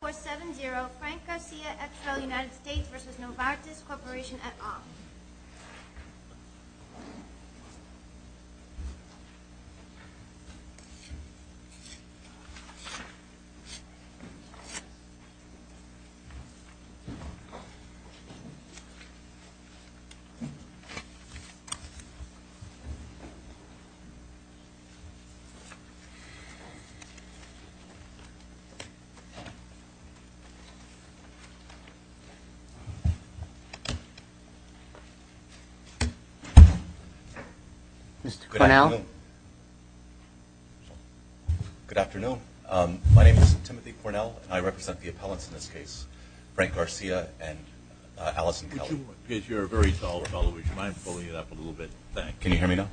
2470 Frank Garcia, XRL United States v. Novartis Corporation at Off Good afternoon. My name is Timothy Cornell and I represent the appellants in this case, Frank Garcia and Allison Kelly. Would you mind pulling it up a little bit? Can you hear me now?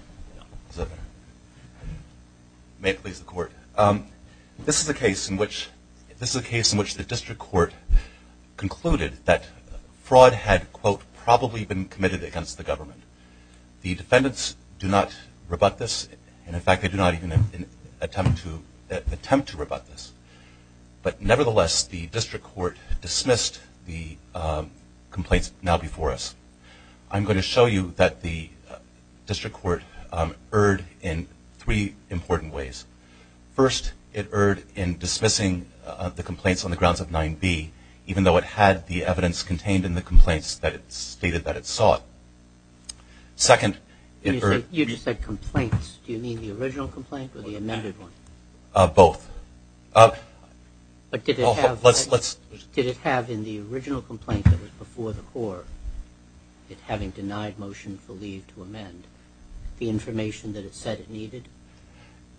May it please the court. This is a case in which the district court concluded that fraud had, quote, probably been committed against the government. The defendants do not rebut this, and in fact they do not even attempt to rebut this. But nevertheless, the district court dismissed the complaints now before us. I'm going to show you that the district court erred in three important ways. First, it erred in dismissing the complaints on the grounds of 9B, even though it had the evidence contained in the complaints that it stated that it sought. Second, it erred in You just said complaints. Do you mean the original complaint or the amended one? Both. But did it have in the original complaint that was before the court, it having denied motion for leave to amend, the information that it said it needed?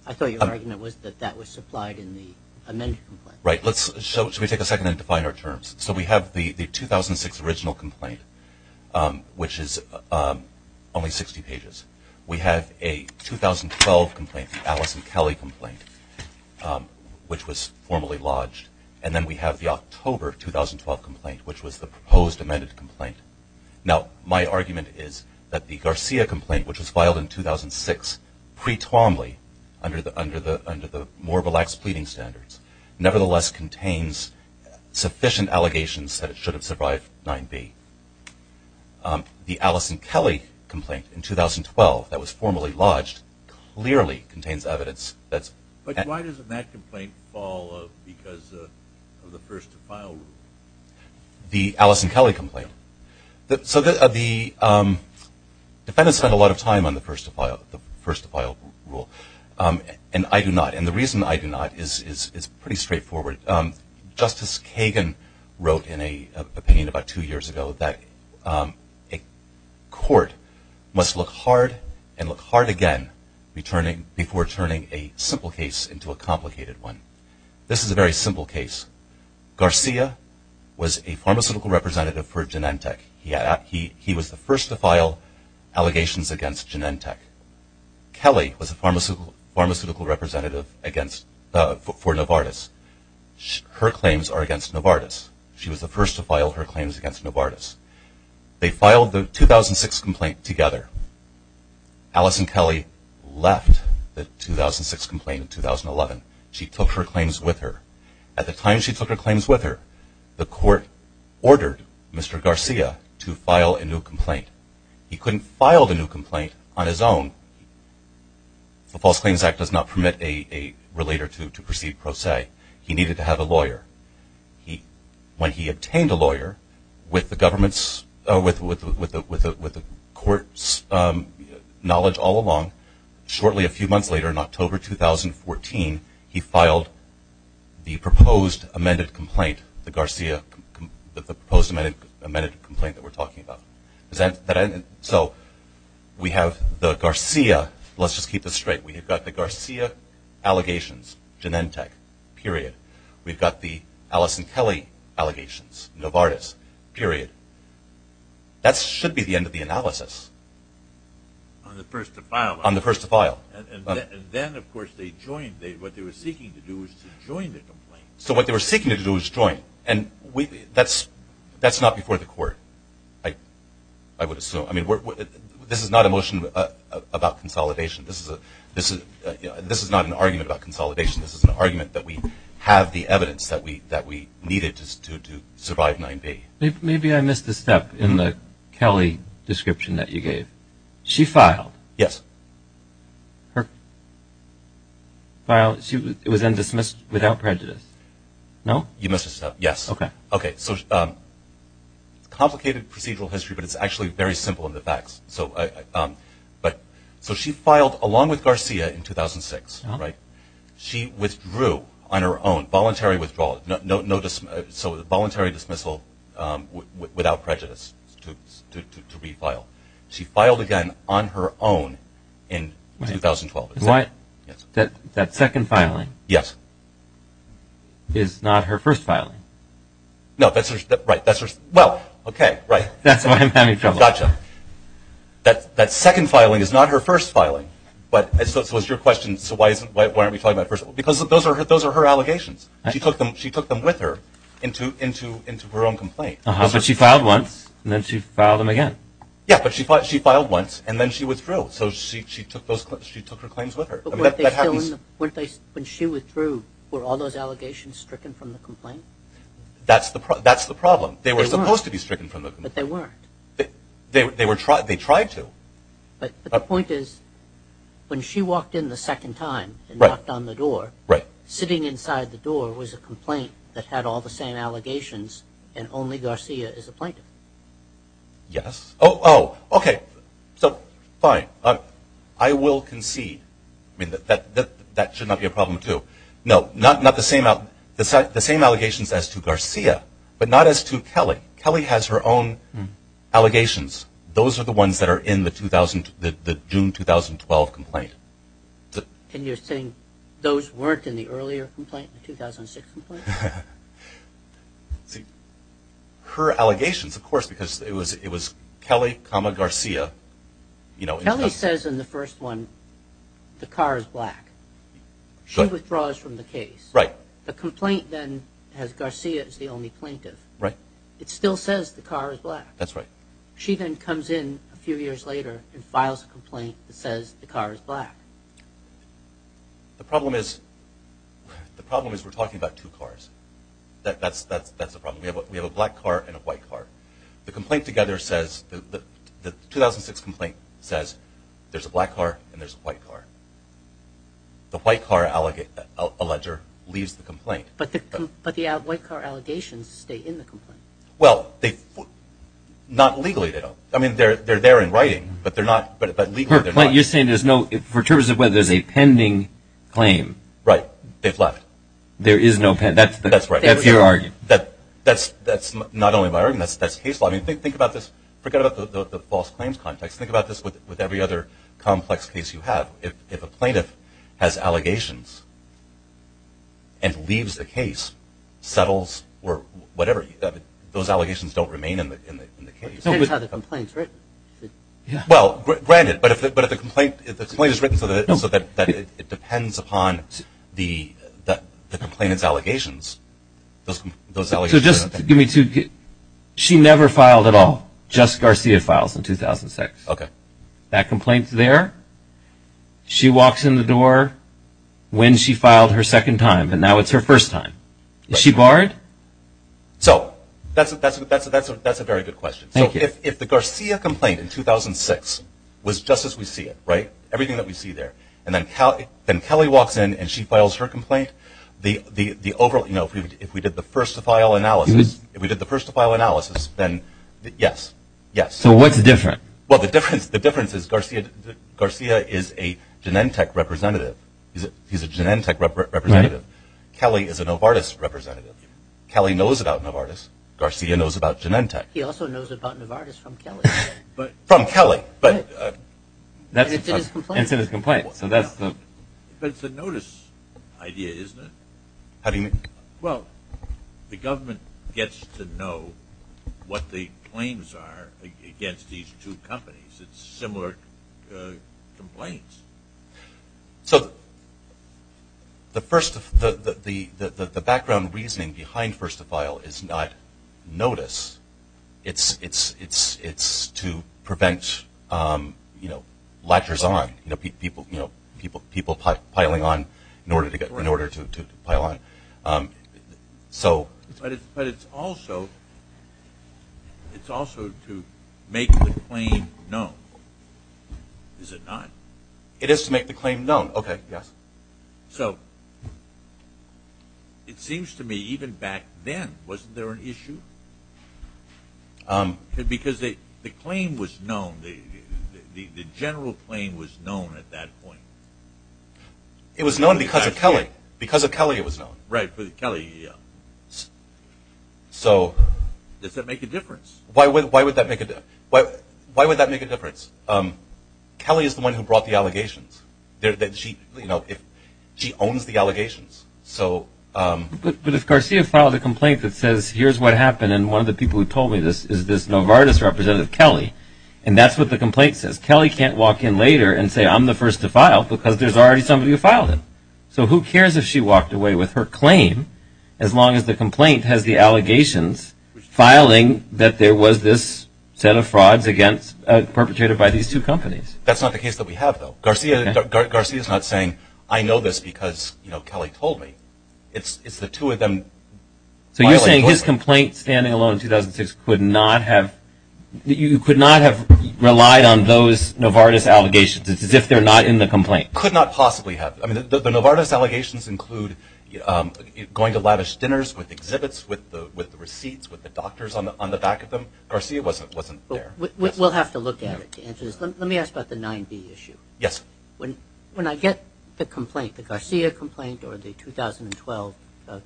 I thought your argument was that that was supplied in the amended complaint. Right. Let's take a second and define our terms. So we have the 2006 original complaint, which is only 60 pages. We have a 2012 complaint, the Allison Kelly complaint, which was formally lodged. And then we have the October 2012 complaint, which was the proposed amended complaint. Now, my argument is that the Garcia complaint, which was filed in 2006, pre-Twombly, under the Morbel-Axe pleading standards, nevertheless contains sufficient allegations that it should have survived 9B. The Allison Kelly complaint in 2012 that was formally lodged clearly contains evidence. But why doesn't that complaint fall because of the first-to-file rule? The Allison Kelly complaint. So the defendants spent a lot of time on the first-to-file rule, and I do not. And the reason I do not is pretty straightforward. Justice Kagan wrote in an opinion about two years ago that a court must look hard and look hard again before turning a simple case into a complicated one. This is a very simple case. Garcia was a pharmaceutical representative for Genentech. He was the first to file allegations against Genentech. Kelly was a pharmaceutical representative for Novartis. Her claims are against Novartis. She was the first to file her claims against Novartis. They filed the 2006 complaint together. Allison Kelly left the 2006 complaint in 2011. She took her claims with her. At the time she took her claims with her, the court ordered Mr. Garcia to file a new complaint. He couldn't file the new complaint on his own. The False Claims Act does not permit a relator to proceed pro se. He needed to have a lawyer. When he obtained a lawyer, with the government's or with the court's knowledge all along, shortly a few months later in October 2014, he filed the proposed amended complaint, the Garcia, the proposed amended complaint that we're talking about. So we have the Garcia. Let's just keep this straight. We've got the Garcia allegations, Genentech, period. We've got the Allison Kelly allegations, Novartis, period. That should be the end of the analysis. On the first to file. On the first to file. And then, of course, they joined. What they were seeking to do was to join the complaint. So what they were seeking to do was join. And that's not before the court, I would assume. I mean, this is not a motion about consolidation. This is not an argument about consolidation. This is an argument that we have the evidence that we needed to survive 9B. Maybe I missed a step in the Kelly description that you gave. She filed. Yes. It was then dismissed without prejudice, no? You missed a step, yes. Okay. Okay, so complicated procedural history, but it's actually very simple in the facts. So she filed along with Garcia in 2006, right? She withdrew on her own, voluntary withdrawal, so voluntary dismissal without prejudice to refile. She filed again on her own in 2012. That second filing is not her first filing. No, that's right. Well, okay, right. That's why I'm having trouble. Gotcha. That second filing is not her first filing. So it's your question, so why aren't we talking about first? Because those are her allegations. She took them with her into her own complaint. But she filed once, and then she filed them again. Yeah, but she filed once, and then she withdrew. Oh, so she took her claims with her. When she withdrew, were all those allegations stricken from the complaint? That's the problem. They were supposed to be stricken from the complaint. But they weren't. They tried to. But the point is, when she walked in the second time and knocked on the door, sitting inside the door was a complaint that had all the same allegations and only Garcia is a plaintiff. Yes. Oh, okay, so fine. I will concede. I mean, that should not be a problem, too. No, not the same allegations as to Garcia, but not as to Kelly. Kelly has her own allegations. Those are the ones that are in the June 2012 complaint. And you're saying those weren't in the earlier complaint, the 2006 complaint? Her allegations, of course, because it was Kelly, Garcia. Kelly says in the first one the car is black. She withdraws from the case. Right. The complaint then has Garcia as the only plaintiff. Right. It still says the car is black. That's right. She then comes in a few years later and files a complaint that says the car is black. The problem is we're talking about two cars. That's the problem. We have a black car and a white car. The 2006 complaint says there's a black car and there's a white car. The white car alleger leaves the complaint. But the white car allegations stay in the complaint. Well, not legally. I mean, they're there in writing, but legally they're not. You're saying for terms of whether there's a pending claim. Right. They've left. There is no pending. That's right. That's not only my argument. That's case law. I mean, think about this. Forget about the false claims context. Think about this with every other complex case you have. If a plaintiff has allegations and leaves the case, settles, or whatever, those allegations don't remain in the case. But the plaintiffs have the complaints, right? Well, granted. But if the complaint is written so that it depends upon the complainant's allegations, those allegations are not pending. So just give me two. She never filed at all. Just Garcia files in 2006. Okay. That complaint's there. She walks in the door when she filed her second time, and now it's her first time. Is she barred? So that's a very good question. Thank you. If the Garcia complaint in 2006 was just as we see it, right, everything that we see there, and then Kelly walks in and she files her complaint, if we did the first-to-file analysis, then yes, yes. So what's the difference? Well, the difference is Garcia is a Genentech representative. He's a Genentech representative. Kelly is a Novartis representative. Kelly knows about Novartis. Garcia knows about Genentech. He also knows about Novartis from Kelly. From Kelly. But it's in his complaint. It's in his complaint. But it's a notice idea, isn't it? How do you mean? Well, the government gets to know what the claims are against these two companies. It's similar complaints. So the background reasoning behind first-to-file is not notice. It's to prevent latchers on, people piling on in order to pile on. But it's also to make the claim known. Is it not? It is to make the claim known. Okay, yes. So it seems to me even back then, wasn't there an issue? Because the claim was known. The general claim was known at that point. It was known because of Kelly. Because of Kelly it was known. Right, because of Kelly. Does that make a difference? Why would that make a difference? Kelly is the one who brought the allegations. She owns the allegations. But if Garcia filed a complaint that says, here's what happened, and one of the people who told me this is this Novartis representative, Kelly, and that's what the complaint says, Kelly can't walk in later and say, I'm the first to file because there's already somebody who filed it. So who cares if she walked away with her claim as long as the complaint has the There was this set of frauds perpetrated by these two companies. That's not the case that we have, though. Garcia is not saying, I know this because Kelly told me. It's the two of them. So you're saying his complaint, standing alone in 2006, could not have relied on those Novartis allegations. It's as if they're not in the complaint. Could not possibly have. The Novartis allegations include going to lavish dinners with exhibits, with the receipts, with the doctors on the back of them. Garcia wasn't there. We'll have to look at it to answer this. Let me ask about the 9B issue. Yes. When I get the complaint, the Garcia complaint or the 2012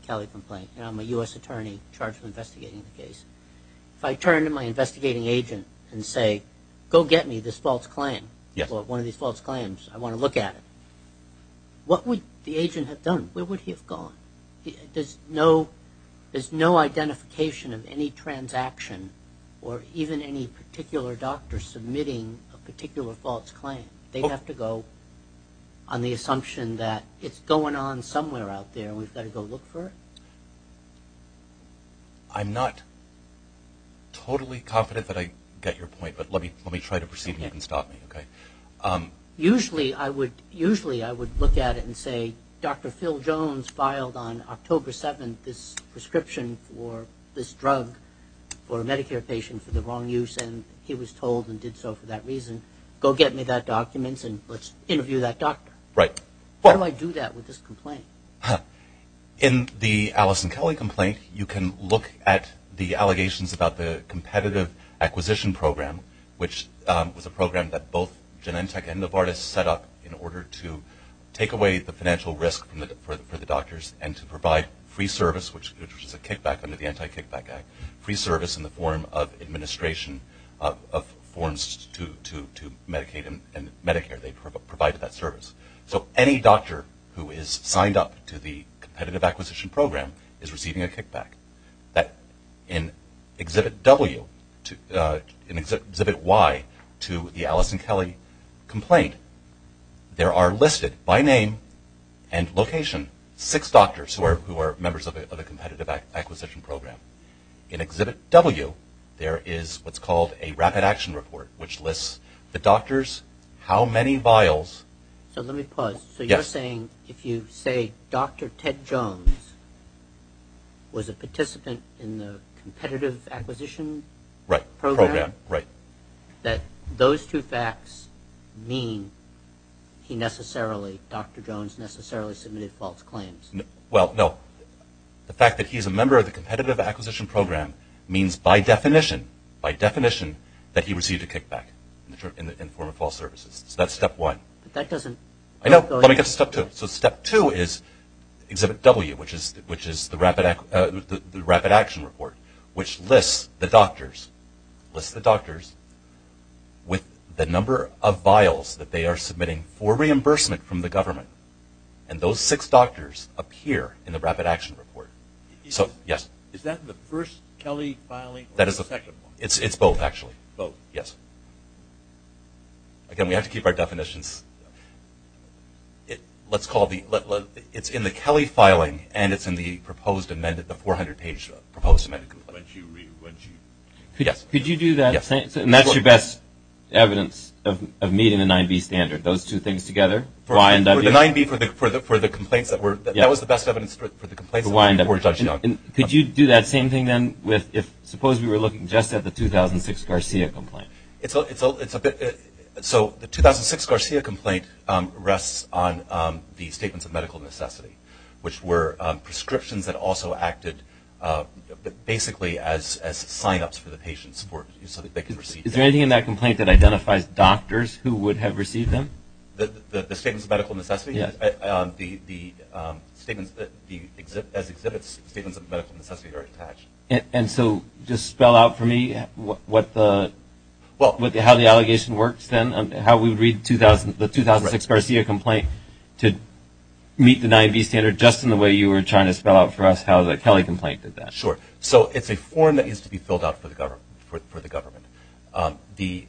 Kelly complaint, and I'm a U.S. attorney charged with investigating the case, if I turn to my investigating agent and say, go get me this false claim, one of these false claims, I want to look at it, what would the agent have done? Where would he have gone? There's no identification of any transaction or even any particular doctor submitting a particular false claim. They'd have to go on the assumption that it's going on somewhere out there and we've got to go look for it. I'm not totally confident that I get your point, but let me try to proceed and you can stop me. Usually I would look at it and say, Dr. Phil Jones filed on October 7th this prescription for this drug for a Medicare patient for the wrong use, and he was told and did so for that reason. Go get me that document and let's interview that doctor. How do I do that with this complaint? In the Allison Kelly complaint, you can look at the allegations about the competitive acquisition program, which was a program that both Genentech and Novartis set up in order to take away the financial risk for the doctors and to provide free service, which was a kickback under the Anti-Kickback Act, free service in the form of administration of forms to Medicaid and Medicare. They provided that service. So any doctor who is signed up to the competitive acquisition program is receiving a kickback. In Exhibit Y to the Allison Kelly complaint, there are listed by name and location six doctors who are members of a competitive acquisition program. In Exhibit W, there is what's called a rapid action report, which lists the doctors, how many vials. So let me pause. So you're saying if you say Dr. Ted Jones was a participant in the competitive acquisition program, that those two facts mean he necessarily, Dr. Jones necessarily submitted false claims? Well, no. The fact that he's a member of the competitive acquisition program means by definition, by definition, that he received a kickback in the form of false services. So that's step one. But that doesn't... I know. Let me get to step two. So step two is Exhibit W, which is the rapid action report, which lists the doctors, lists the doctors with the number of vials that they are submitting for reimbursement from the government. And those six doctors appear in the rapid action report. So, yes. Is that the first Kelly filing or the second one? It's both, actually. Both. Yes. Again, we have to keep our definitions. Let's call the... It's in the Kelly filing and it's in the proposed amended, the 400-page proposed amended complaint. Could you do that? And that's your best evidence of meeting the 9B standard, those two things together, Y and W? The 9B for the complaints that were... That was the best evidence for the complaints that were judged. Could you do that same thing, then, if suppose we were looking just at the 2006 Garcia complaint? It's a bit... So the 2006 Garcia complaint rests on the statements of medical necessity, which were prescriptions that also acted basically as sign-ups for the patient support so that they could receive them. Is there anything in that complaint that identifies doctors who would have received them? The statements of medical necessity? Yes. The statements as exhibits, statements of medical necessity are attached. And so just spell out for me what the... How the allegation works, then, how we read the 2006 Garcia complaint to meet the 9B standard, just in the way you were trying to spell out for us how the Kelly complaint did that. Sure. So it's a form that needs to be filled out for the government. The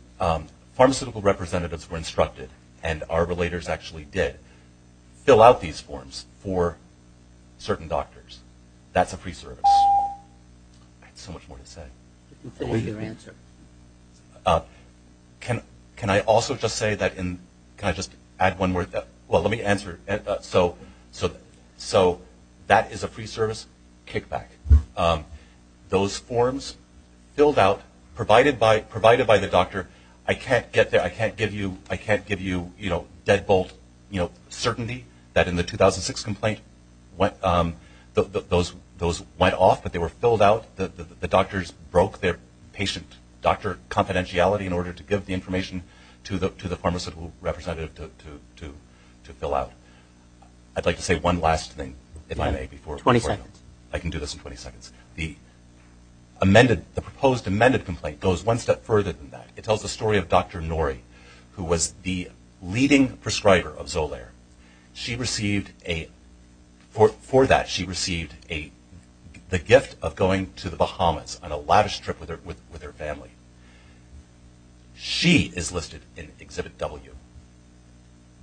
pharmaceutical representatives were instructed, and our relators actually did, fill out these forms for certain doctors. That's a free service. I had so much more to say. Finish your answer. Can I also just say that in... Can I just add one more? Well, let me answer. So that is a free service kickback. Those forms filled out, provided by the doctor. I can't get there. I can't give you deadbolt certainty that in the 2006 complaint, those went off, but they were filled out. The doctors broke their patient doctor confidentiality in order to give the information to the pharmaceutical representative to fill out. I'd like to say one last thing, if I may, before I go. 20 seconds. I can do this in 20 seconds. The amended, the proposed amended complaint goes one step further than that. It tells the story of Dr. Norrie, who was the leading prescriber of Zolaire. She received a... For that, she received the gift of going to the Bahamas on a lavish trip with her family. She is listed in Exhibit W,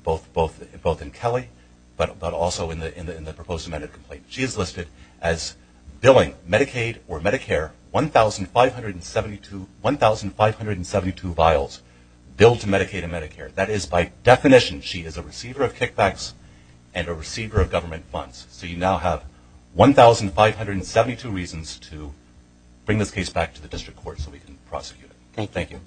both in Kelly, but also in the proposed amended complaint. She is listed as billing Medicaid or Medicare 1,572 vials, billed to Medicaid and Medicare. That is, by definition, she is a receiver of kickbacks and a receiver of government funds. So you now have 1,572 reasons to bring this case back to the district court so we can prosecute it. Thank you.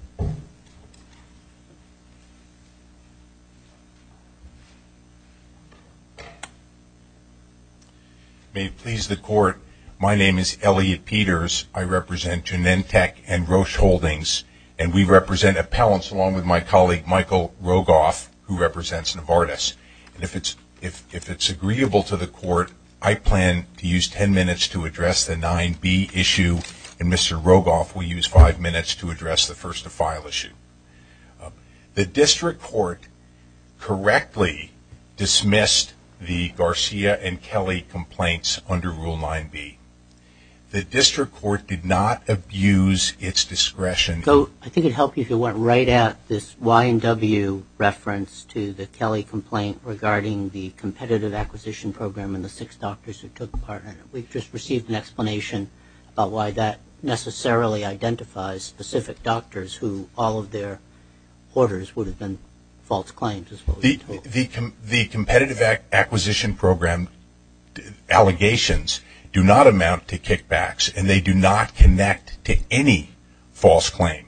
May it please the court, my name is Elliot Peters. I represent Genentech and Roche Holdings, and we represent appellants along with my colleague, Michael Rogoff, who represents Novartis. If it's agreeable to the court, I plan to use ten minutes to address the 9B issue, and Mr. Rogoff will use five minutes to address the first-of-file issue. The district court correctly dismissed the Garcia and Kelly complaints under Rule 9B. The district court did not abuse its discretion. I think it would help if you went right at this Y&W reference to the Kelly complaint regarding the competitive acquisition program and the six doctors who took part in it. We've just received an explanation about why that necessarily identifies specific doctors who all of their orders would have been false claims. The competitive acquisition program allegations do not amount to kickbacks, and they do not connect to any false claim.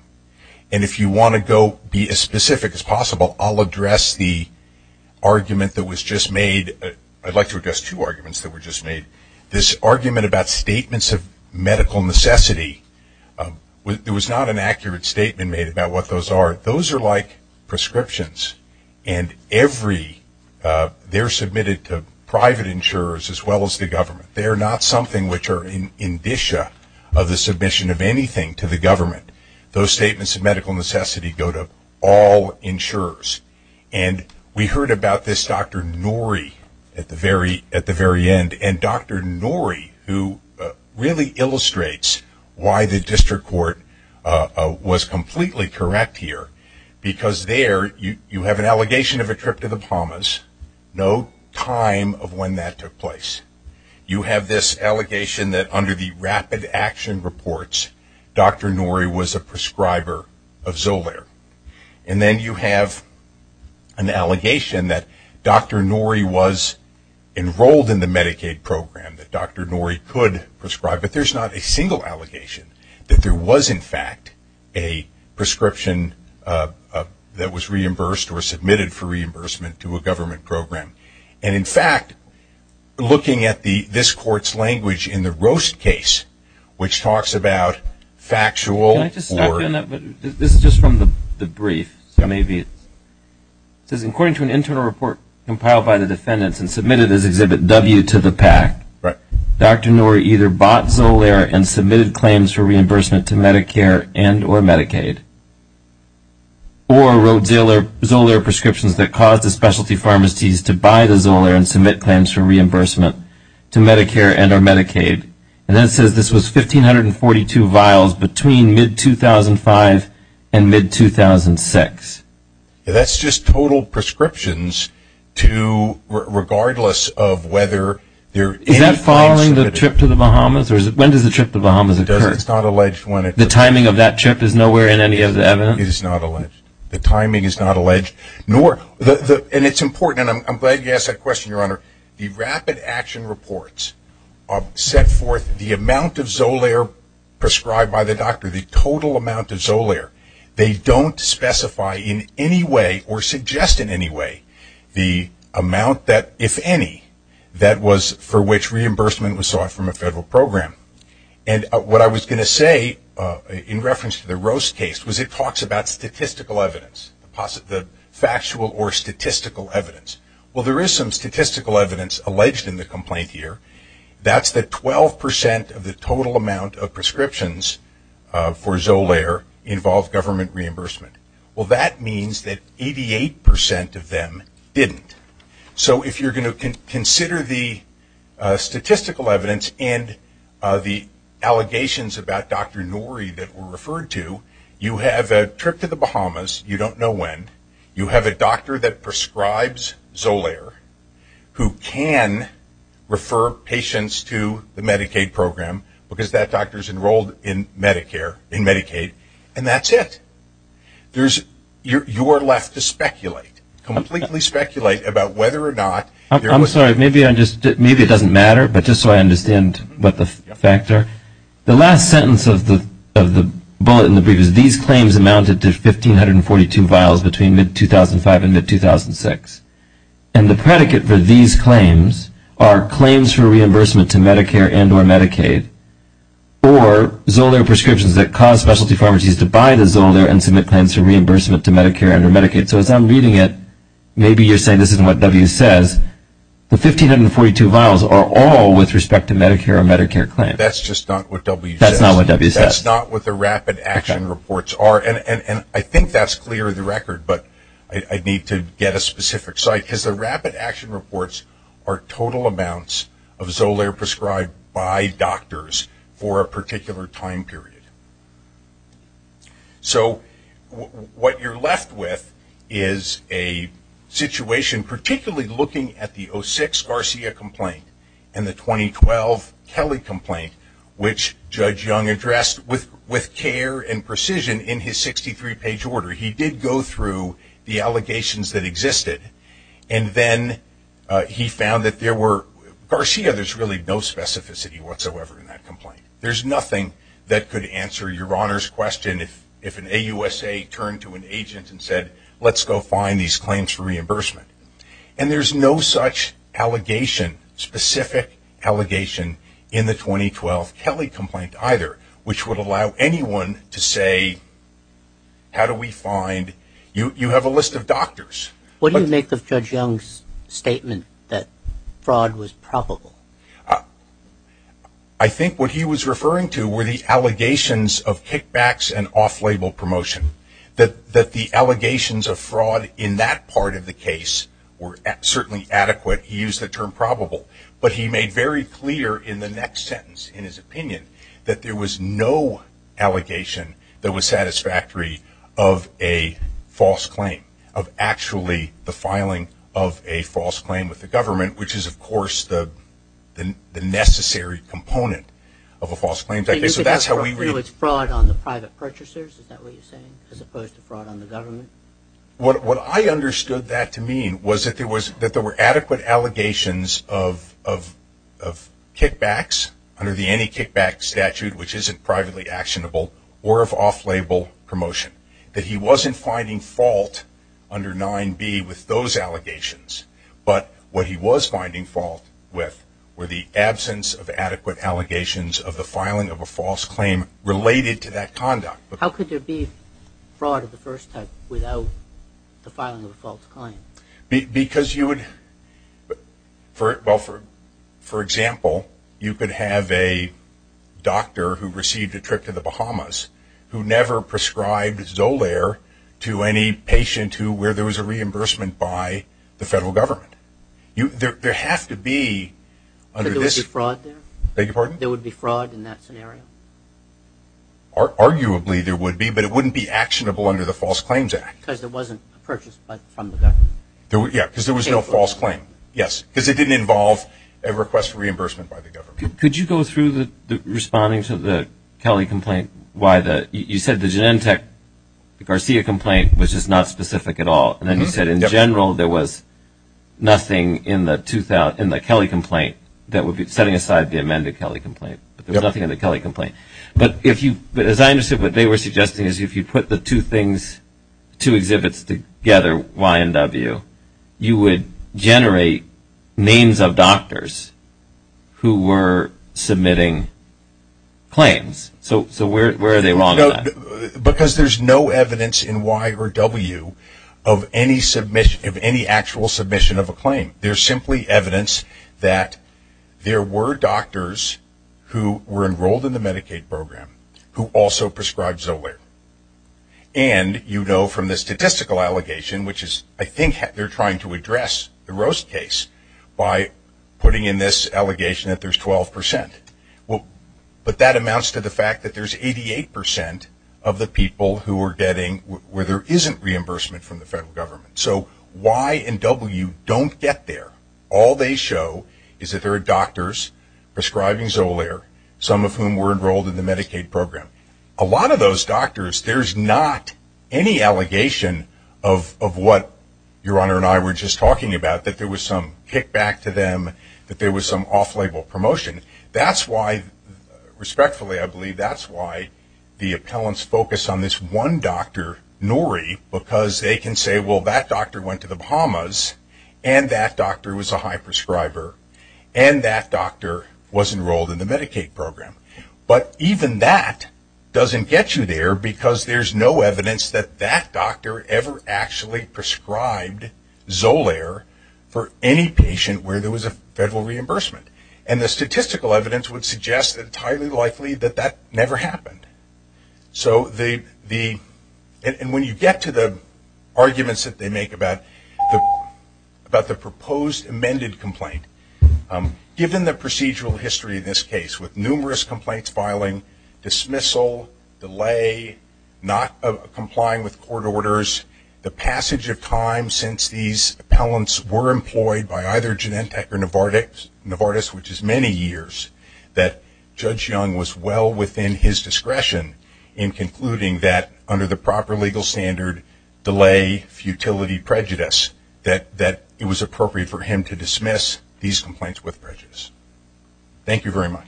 And if you want to go be as specific as possible, I'll address the argument that was just made. I'd like to address two arguments that were just made. This argument about statements of medical necessity, there was not an accurate statement made about what those are. Those are like prescriptions, and they're submitted to private insurers as well as the government. They're not something which are in indicia of the submission of anything to the government. Those statements of medical necessity go to all insurers. And we heard about this Dr. Norrie at the very end, and Dr. Norrie who really illustrates why the district court was completely correct here, because there you have an allegation of a trip to the Palmas, no time of when that took place. You have this allegation that under the rapid action reports, Dr. Norrie was a prescriber of Zolair. And then you have an allegation that Dr. Norrie was enrolled in the Medicaid program, that Dr. Norrie could prescribe. But there's not a single allegation that there was in fact a prescription that was reimbursed or submitted for reimbursement to a government program. And in fact, looking at this court's language in the Roast case, which talks about factual or... Can I just stop you on that? This is just from the brief. It says, according to an internal report compiled by the defendants and submitted as Exhibit W to the PAC, Dr. Norrie either bought Zolair and submitted claims for reimbursement to Medicare and or Medicaid, or wrote Zolair prescriptions that caused the specialty pharmacies to buy the Zolair and submit claims for reimbursement to Medicare and or Medicaid. And then it says this was 1,542 vials between mid-2005 and mid-2006. That's just total prescriptions regardless of whether... Is that following the trip to the Bahamas? When does the trip to the Bahamas occur? It's not alleged when it... The timing of that trip is nowhere in any of the evidence? It is not alleged. The timing is not alleged. And it's important, and I'm glad you asked that question, Your Honor. The rapid action reports set forth the amount of Zolair prescribed by the doctor, the total amount of Zolair. They don't specify in any way or suggest in any way the amount that, if any, that was for which reimbursement was sought from a federal program. And what I was going to say in reference to the Roast case was it talks about statistical evidence, the factual or statistical evidence. Well, there is some statistical evidence alleged in the complaint here. That's that 12% of the total amount of prescriptions for Zolair involved government reimbursement. Well, that means that 88% of them didn't. So if you're going to consider the statistical evidence and the allegations about Dr. Nouri that were referred to, you have a trip to the Bahamas, you don't know when. You have a doctor that prescribes Zolair who can refer patients to the Medicaid program because that doctor is enrolled in Medicare, in Medicaid, and that's it. You are left to speculate, completely speculate about whether or not. I'm sorry. Maybe it doesn't matter, but just so I understand the factor. The last sentence of the bullet in the brief is that these claims amounted to 1,542 vials between mid-2005 and mid-2006. And the predicate for these claims are claims for reimbursement to Medicare and or Medicaid or Zolair prescriptions that cause specialty pharmacies to buy the Zolair and submit claims for reimbursement to Medicare and or Medicaid. So as I'm reading it, maybe you're saying this isn't what W says. The 1,542 vials are all with respect to Medicare or Medicare claims. That's just not what W says. That's not what W says. I think that's clear of the record, but I need to get a specific site. Because the rapid action reports are total amounts of Zolair prescribed by doctors for a particular time period. So what you're left with is a situation, particularly looking at the 06 Garcia complaint and the 2012 Kelly complaint, which Judge Young addressed with care and precision in his 63-page order. He did go through the allegations that existed, and then he found that there were, Garcia there's really no specificity whatsoever in that complaint. There's nothing that could answer your Honor's question if an AUSA turned to an agent and said, let's go find these claims for reimbursement. And there's no such allegation, specific allegation, in the 2012 Kelly complaint either, which would allow anyone to say, how do we find, you have a list of doctors. What do you make of Judge Young's statement that fraud was probable? I think what he was referring to were the allegations of kickbacks and off-label promotion. That the allegations of fraud in that part of the case were certainly adequate. He used the term probable. But he made very clear in the next sentence in his opinion that there was no allegation that was satisfactory of a false claim, of actually the filing of a false claim with the government, which is of course the necessary component of a false claim. So he was referring to fraud on the private purchasers, is that what you're saying, as opposed to fraud on the government? What I understood that to mean was that there were adequate allegations of kickbacks, under the any kickback statute, which isn't privately actionable, or of off-label promotion. That he wasn't finding fault under 9b with those allegations, but what he was finding fault with were the absence of adequate allegations of the filing of a false claim related to that conduct. How could there be fraud of the first type without the filing of a false claim? Because you would, for example, you could have a doctor who received a trip to the Bahamas, who never prescribed Zolair to any patient where there was a reimbursement by the federal government. There would be fraud in that scenario? Arguably there would be, but it wouldn't be actionable under the False Claims Act. Because there wasn't a purchase from the government? Yes, because there was no false claim. Because it didn't involve a request for reimbursement by the government. Could you go through responding to the Kelley complaint? You said the Genentech-Garcia complaint was just not specific at all, and then you said in general there was nothing in the Kelley complaint that would be setting aside the amended Kelley complaint, but there was nothing in the Kelley complaint. But as I understood what they were suggesting is if you put the two exhibits together, Y and W, you would generate names of doctors who were submitting claims. So where are they wrong on that? Because there's no evidence in Y or W of any actual submission of a claim. There's simply evidence that there were doctors who were enrolled in the Medicaid program who also prescribed Zolair. And you know from the statistical allegation, which is I think they're trying to address the Roast case, by putting in this allegation that there's 12%. But that amounts to the fact that there's 88% of the people who are getting, where there isn't reimbursement from the federal government. So Y and W don't get there. All they show is that there are doctors prescribing Zolair, some of whom were enrolled in the Medicaid program. A lot of those doctors, there's not any allegation of what Your Honor and I were just talking about, that there was some kickback to them, that there was some off-label promotion. That's why, respectfully I believe, that's why the appellants focus on this one doctor, Nori, because they can say well that doctor went to the Bahamas and that doctor was a high prescriber and that doctor was enrolled in the Medicaid program. But even that doesn't get you there, because there's no evidence that that doctor ever actually prescribed Zolair for any patient where there was a federal reimbursement. And the statistical evidence would suggest entirely likely that that never happened. And when you get to the arguments that they make about the proposed amended complaint, given the procedural history of this case with numerous complaints filing, dismissal, delay, not complying with court orders, the passage of time since these appellants were employed by either Genentech or Novartis, which is many years, that Judge Young was well within his discretion in concluding that under the proper legal standard, delay, futility, prejudice, that it was appropriate for him to dismiss these complaints with prejudice. Thank you very much.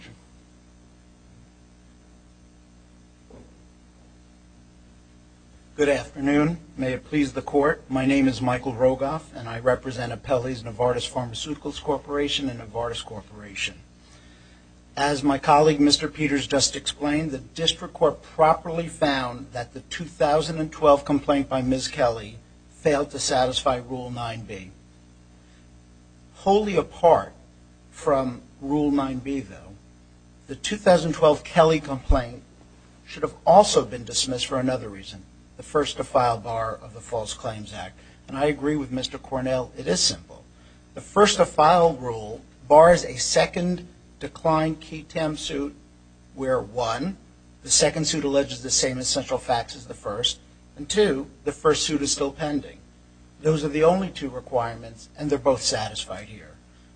Good afternoon. May it please the court, my name is Michael Rogoff and I represent Appellee's Novartis Pharmaceuticals Corporation and Novartis Corporation. As my colleague Mr. Peters just explained, the district court properly found that the 2012 complaint by Ms. Kelly failed to satisfy Rule 9B. Wholly apart from Rule 9B though, the 2012 Kelly complaint should have also been dismissed for another reason, the first to file bar of the False Claims Act. And I agree with Mr. Cornell, it is simple. The first to file rule bars a second declined ketamine suit where one, the second suit alleges the same essential facts as the first and two, the first suit is still pending. Those are the only two requirements and they're both satisfied here.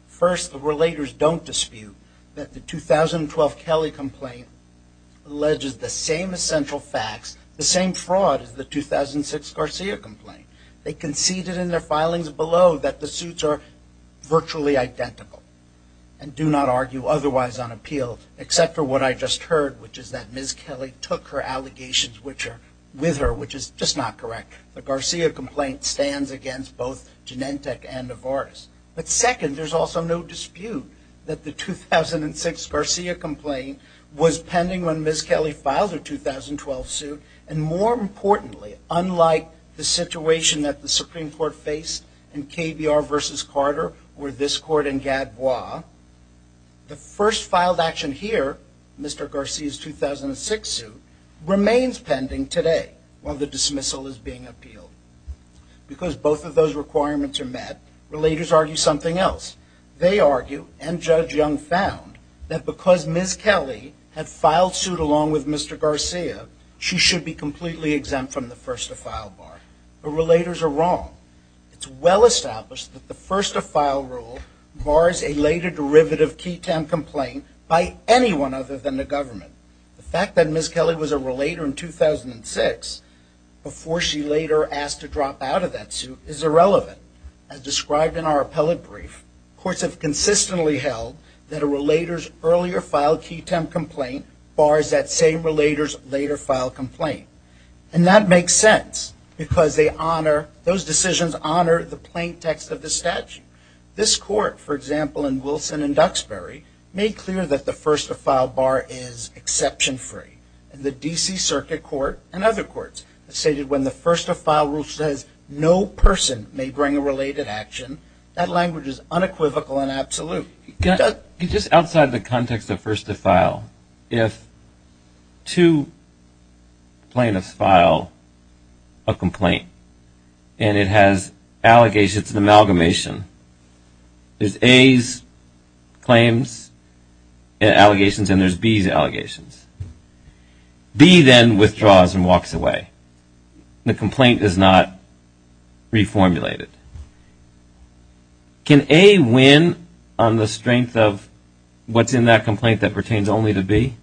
First, the relators don't dispute that the 2012 Kelly complaint alleges the same essential facts, the same fraud as the 2006 Garcia complaint. They conceded in their filings below that the suits are virtually identical and do not argue otherwise on appeal except for what I just heard, which is that Ms. Kelly took her allegations with her, which is just not correct. The Garcia complaint stands against both Genentech and Novartis. But second, there's also no dispute that the 2006 Garcia complaint was pending when Ms. Kelly filed her 2012 suit and more importantly, unlike the situation that the Supreme Court faced in KBR versus Carter or this court in Gadbois, the first filed action here, Mr. Garcia's 2006 suit, remains pending today while the dismissal is being appealed. Because both of those requirements are met, relators argue something else. They argue and Judge Young found that because Ms. Kelly had filed suit along with Mr. Garcia, she should be completely exempt from the first to file bar. The relators are wrong. It's well established that the first to file rule bars a later derivative key temp complaint by anyone other than the government. The fact that Ms. Kelly was a relator in 2006 before she later asked to drop out of that suit is irrelevant. As described in our appellate brief, courts have consistently held that a relator's earlier filed key temp complaint bars that same relator's later filed complaint. And that makes sense because those decisions honor the plain text of the statute. This court, for example, in Wilson and Duxbury, made clear that the first to file bar is exception free. And the D.C. Circuit Court and other courts have stated when the first to file rule says no person may bring a related action, that language is unequivocal and absolute. Just outside the context of first to file, if two plaintiffs file a complaint and it has allegations of amalgamation, there's A's claims and allegations and there's B's allegations. B then withdraws and walks away. The complaint is not reformulated. Can A win on the strength of what's in that complaint that pertains only to B?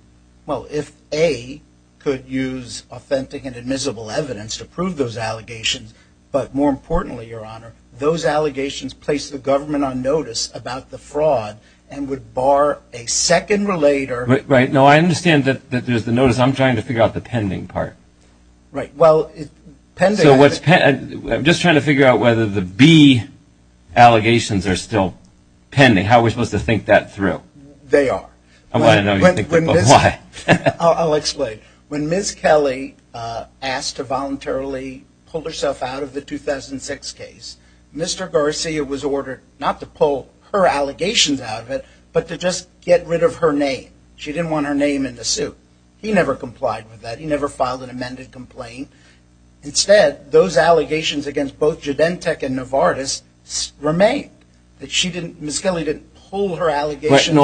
Well, if A could use authentic and admissible evidence to prove those allegations, but more importantly, Your Honor, those allegations place the government on notice about the fraud and would bar a second relator. Right. No, I understand that there's the notice. I'm trying to figure out the pending part. I'm just trying to figure out whether the B allegations are still pending. How are we supposed to think that through? They are. I want to know why. I'll explain. When Ms. Kelly asked to voluntarily pull herself out of the 2006 case, Mr. Garcia was ordered not to pull her allegations out of it, but to just get rid of her name. She didn't want her name in the suit. He never complied with that. He never filed an amended complaint. Instead, those allegations against both Judentech and Novartis remain. Ms. Kelly didn't pull her allegations.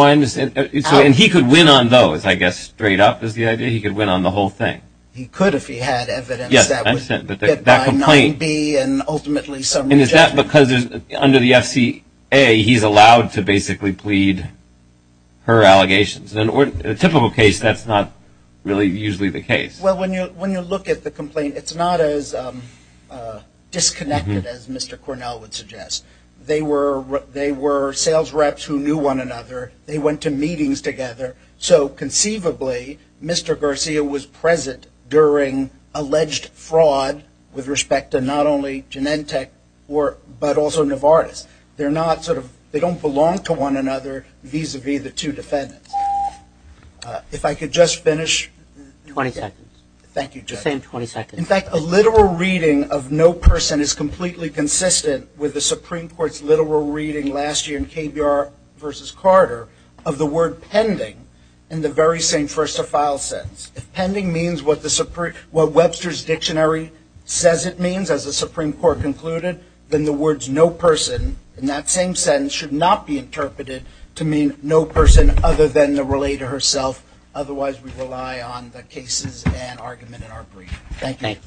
And he could win on those, I guess, straight up is the idea. He could win on the whole thing. He could if he had evidence that would get by 9B and ultimately some rejection. And is that because under the FCA he's allowed to basically plead her allegations? In a typical case, that's not really usually the case. Well, when you look at the complaint, it's not as disconnected as Mr. Cornell would suggest. They were sales reps who knew one another. They went to meetings together. So conceivably, Mr. Garcia was present during alleged fraud with respect to not only Judentech but also Novartis. They don't belong to one another vis-à-vis the two defendants. If I could just finish. 20 seconds. Thank you, Judge. The same 20 seconds. In fact, a literal reading of no person is completely consistent with the Supreme Court's literal reading last year in KBR v. Carter of the word pending in the very same first-to-file sense. If pending means what Webster's Dictionary says it means, as the Supreme Court concluded, then the words no person in that same sentence should not be interpreted to mean no person other than the relator herself. Otherwise, we rely on the cases and argument in our brief. Thank you.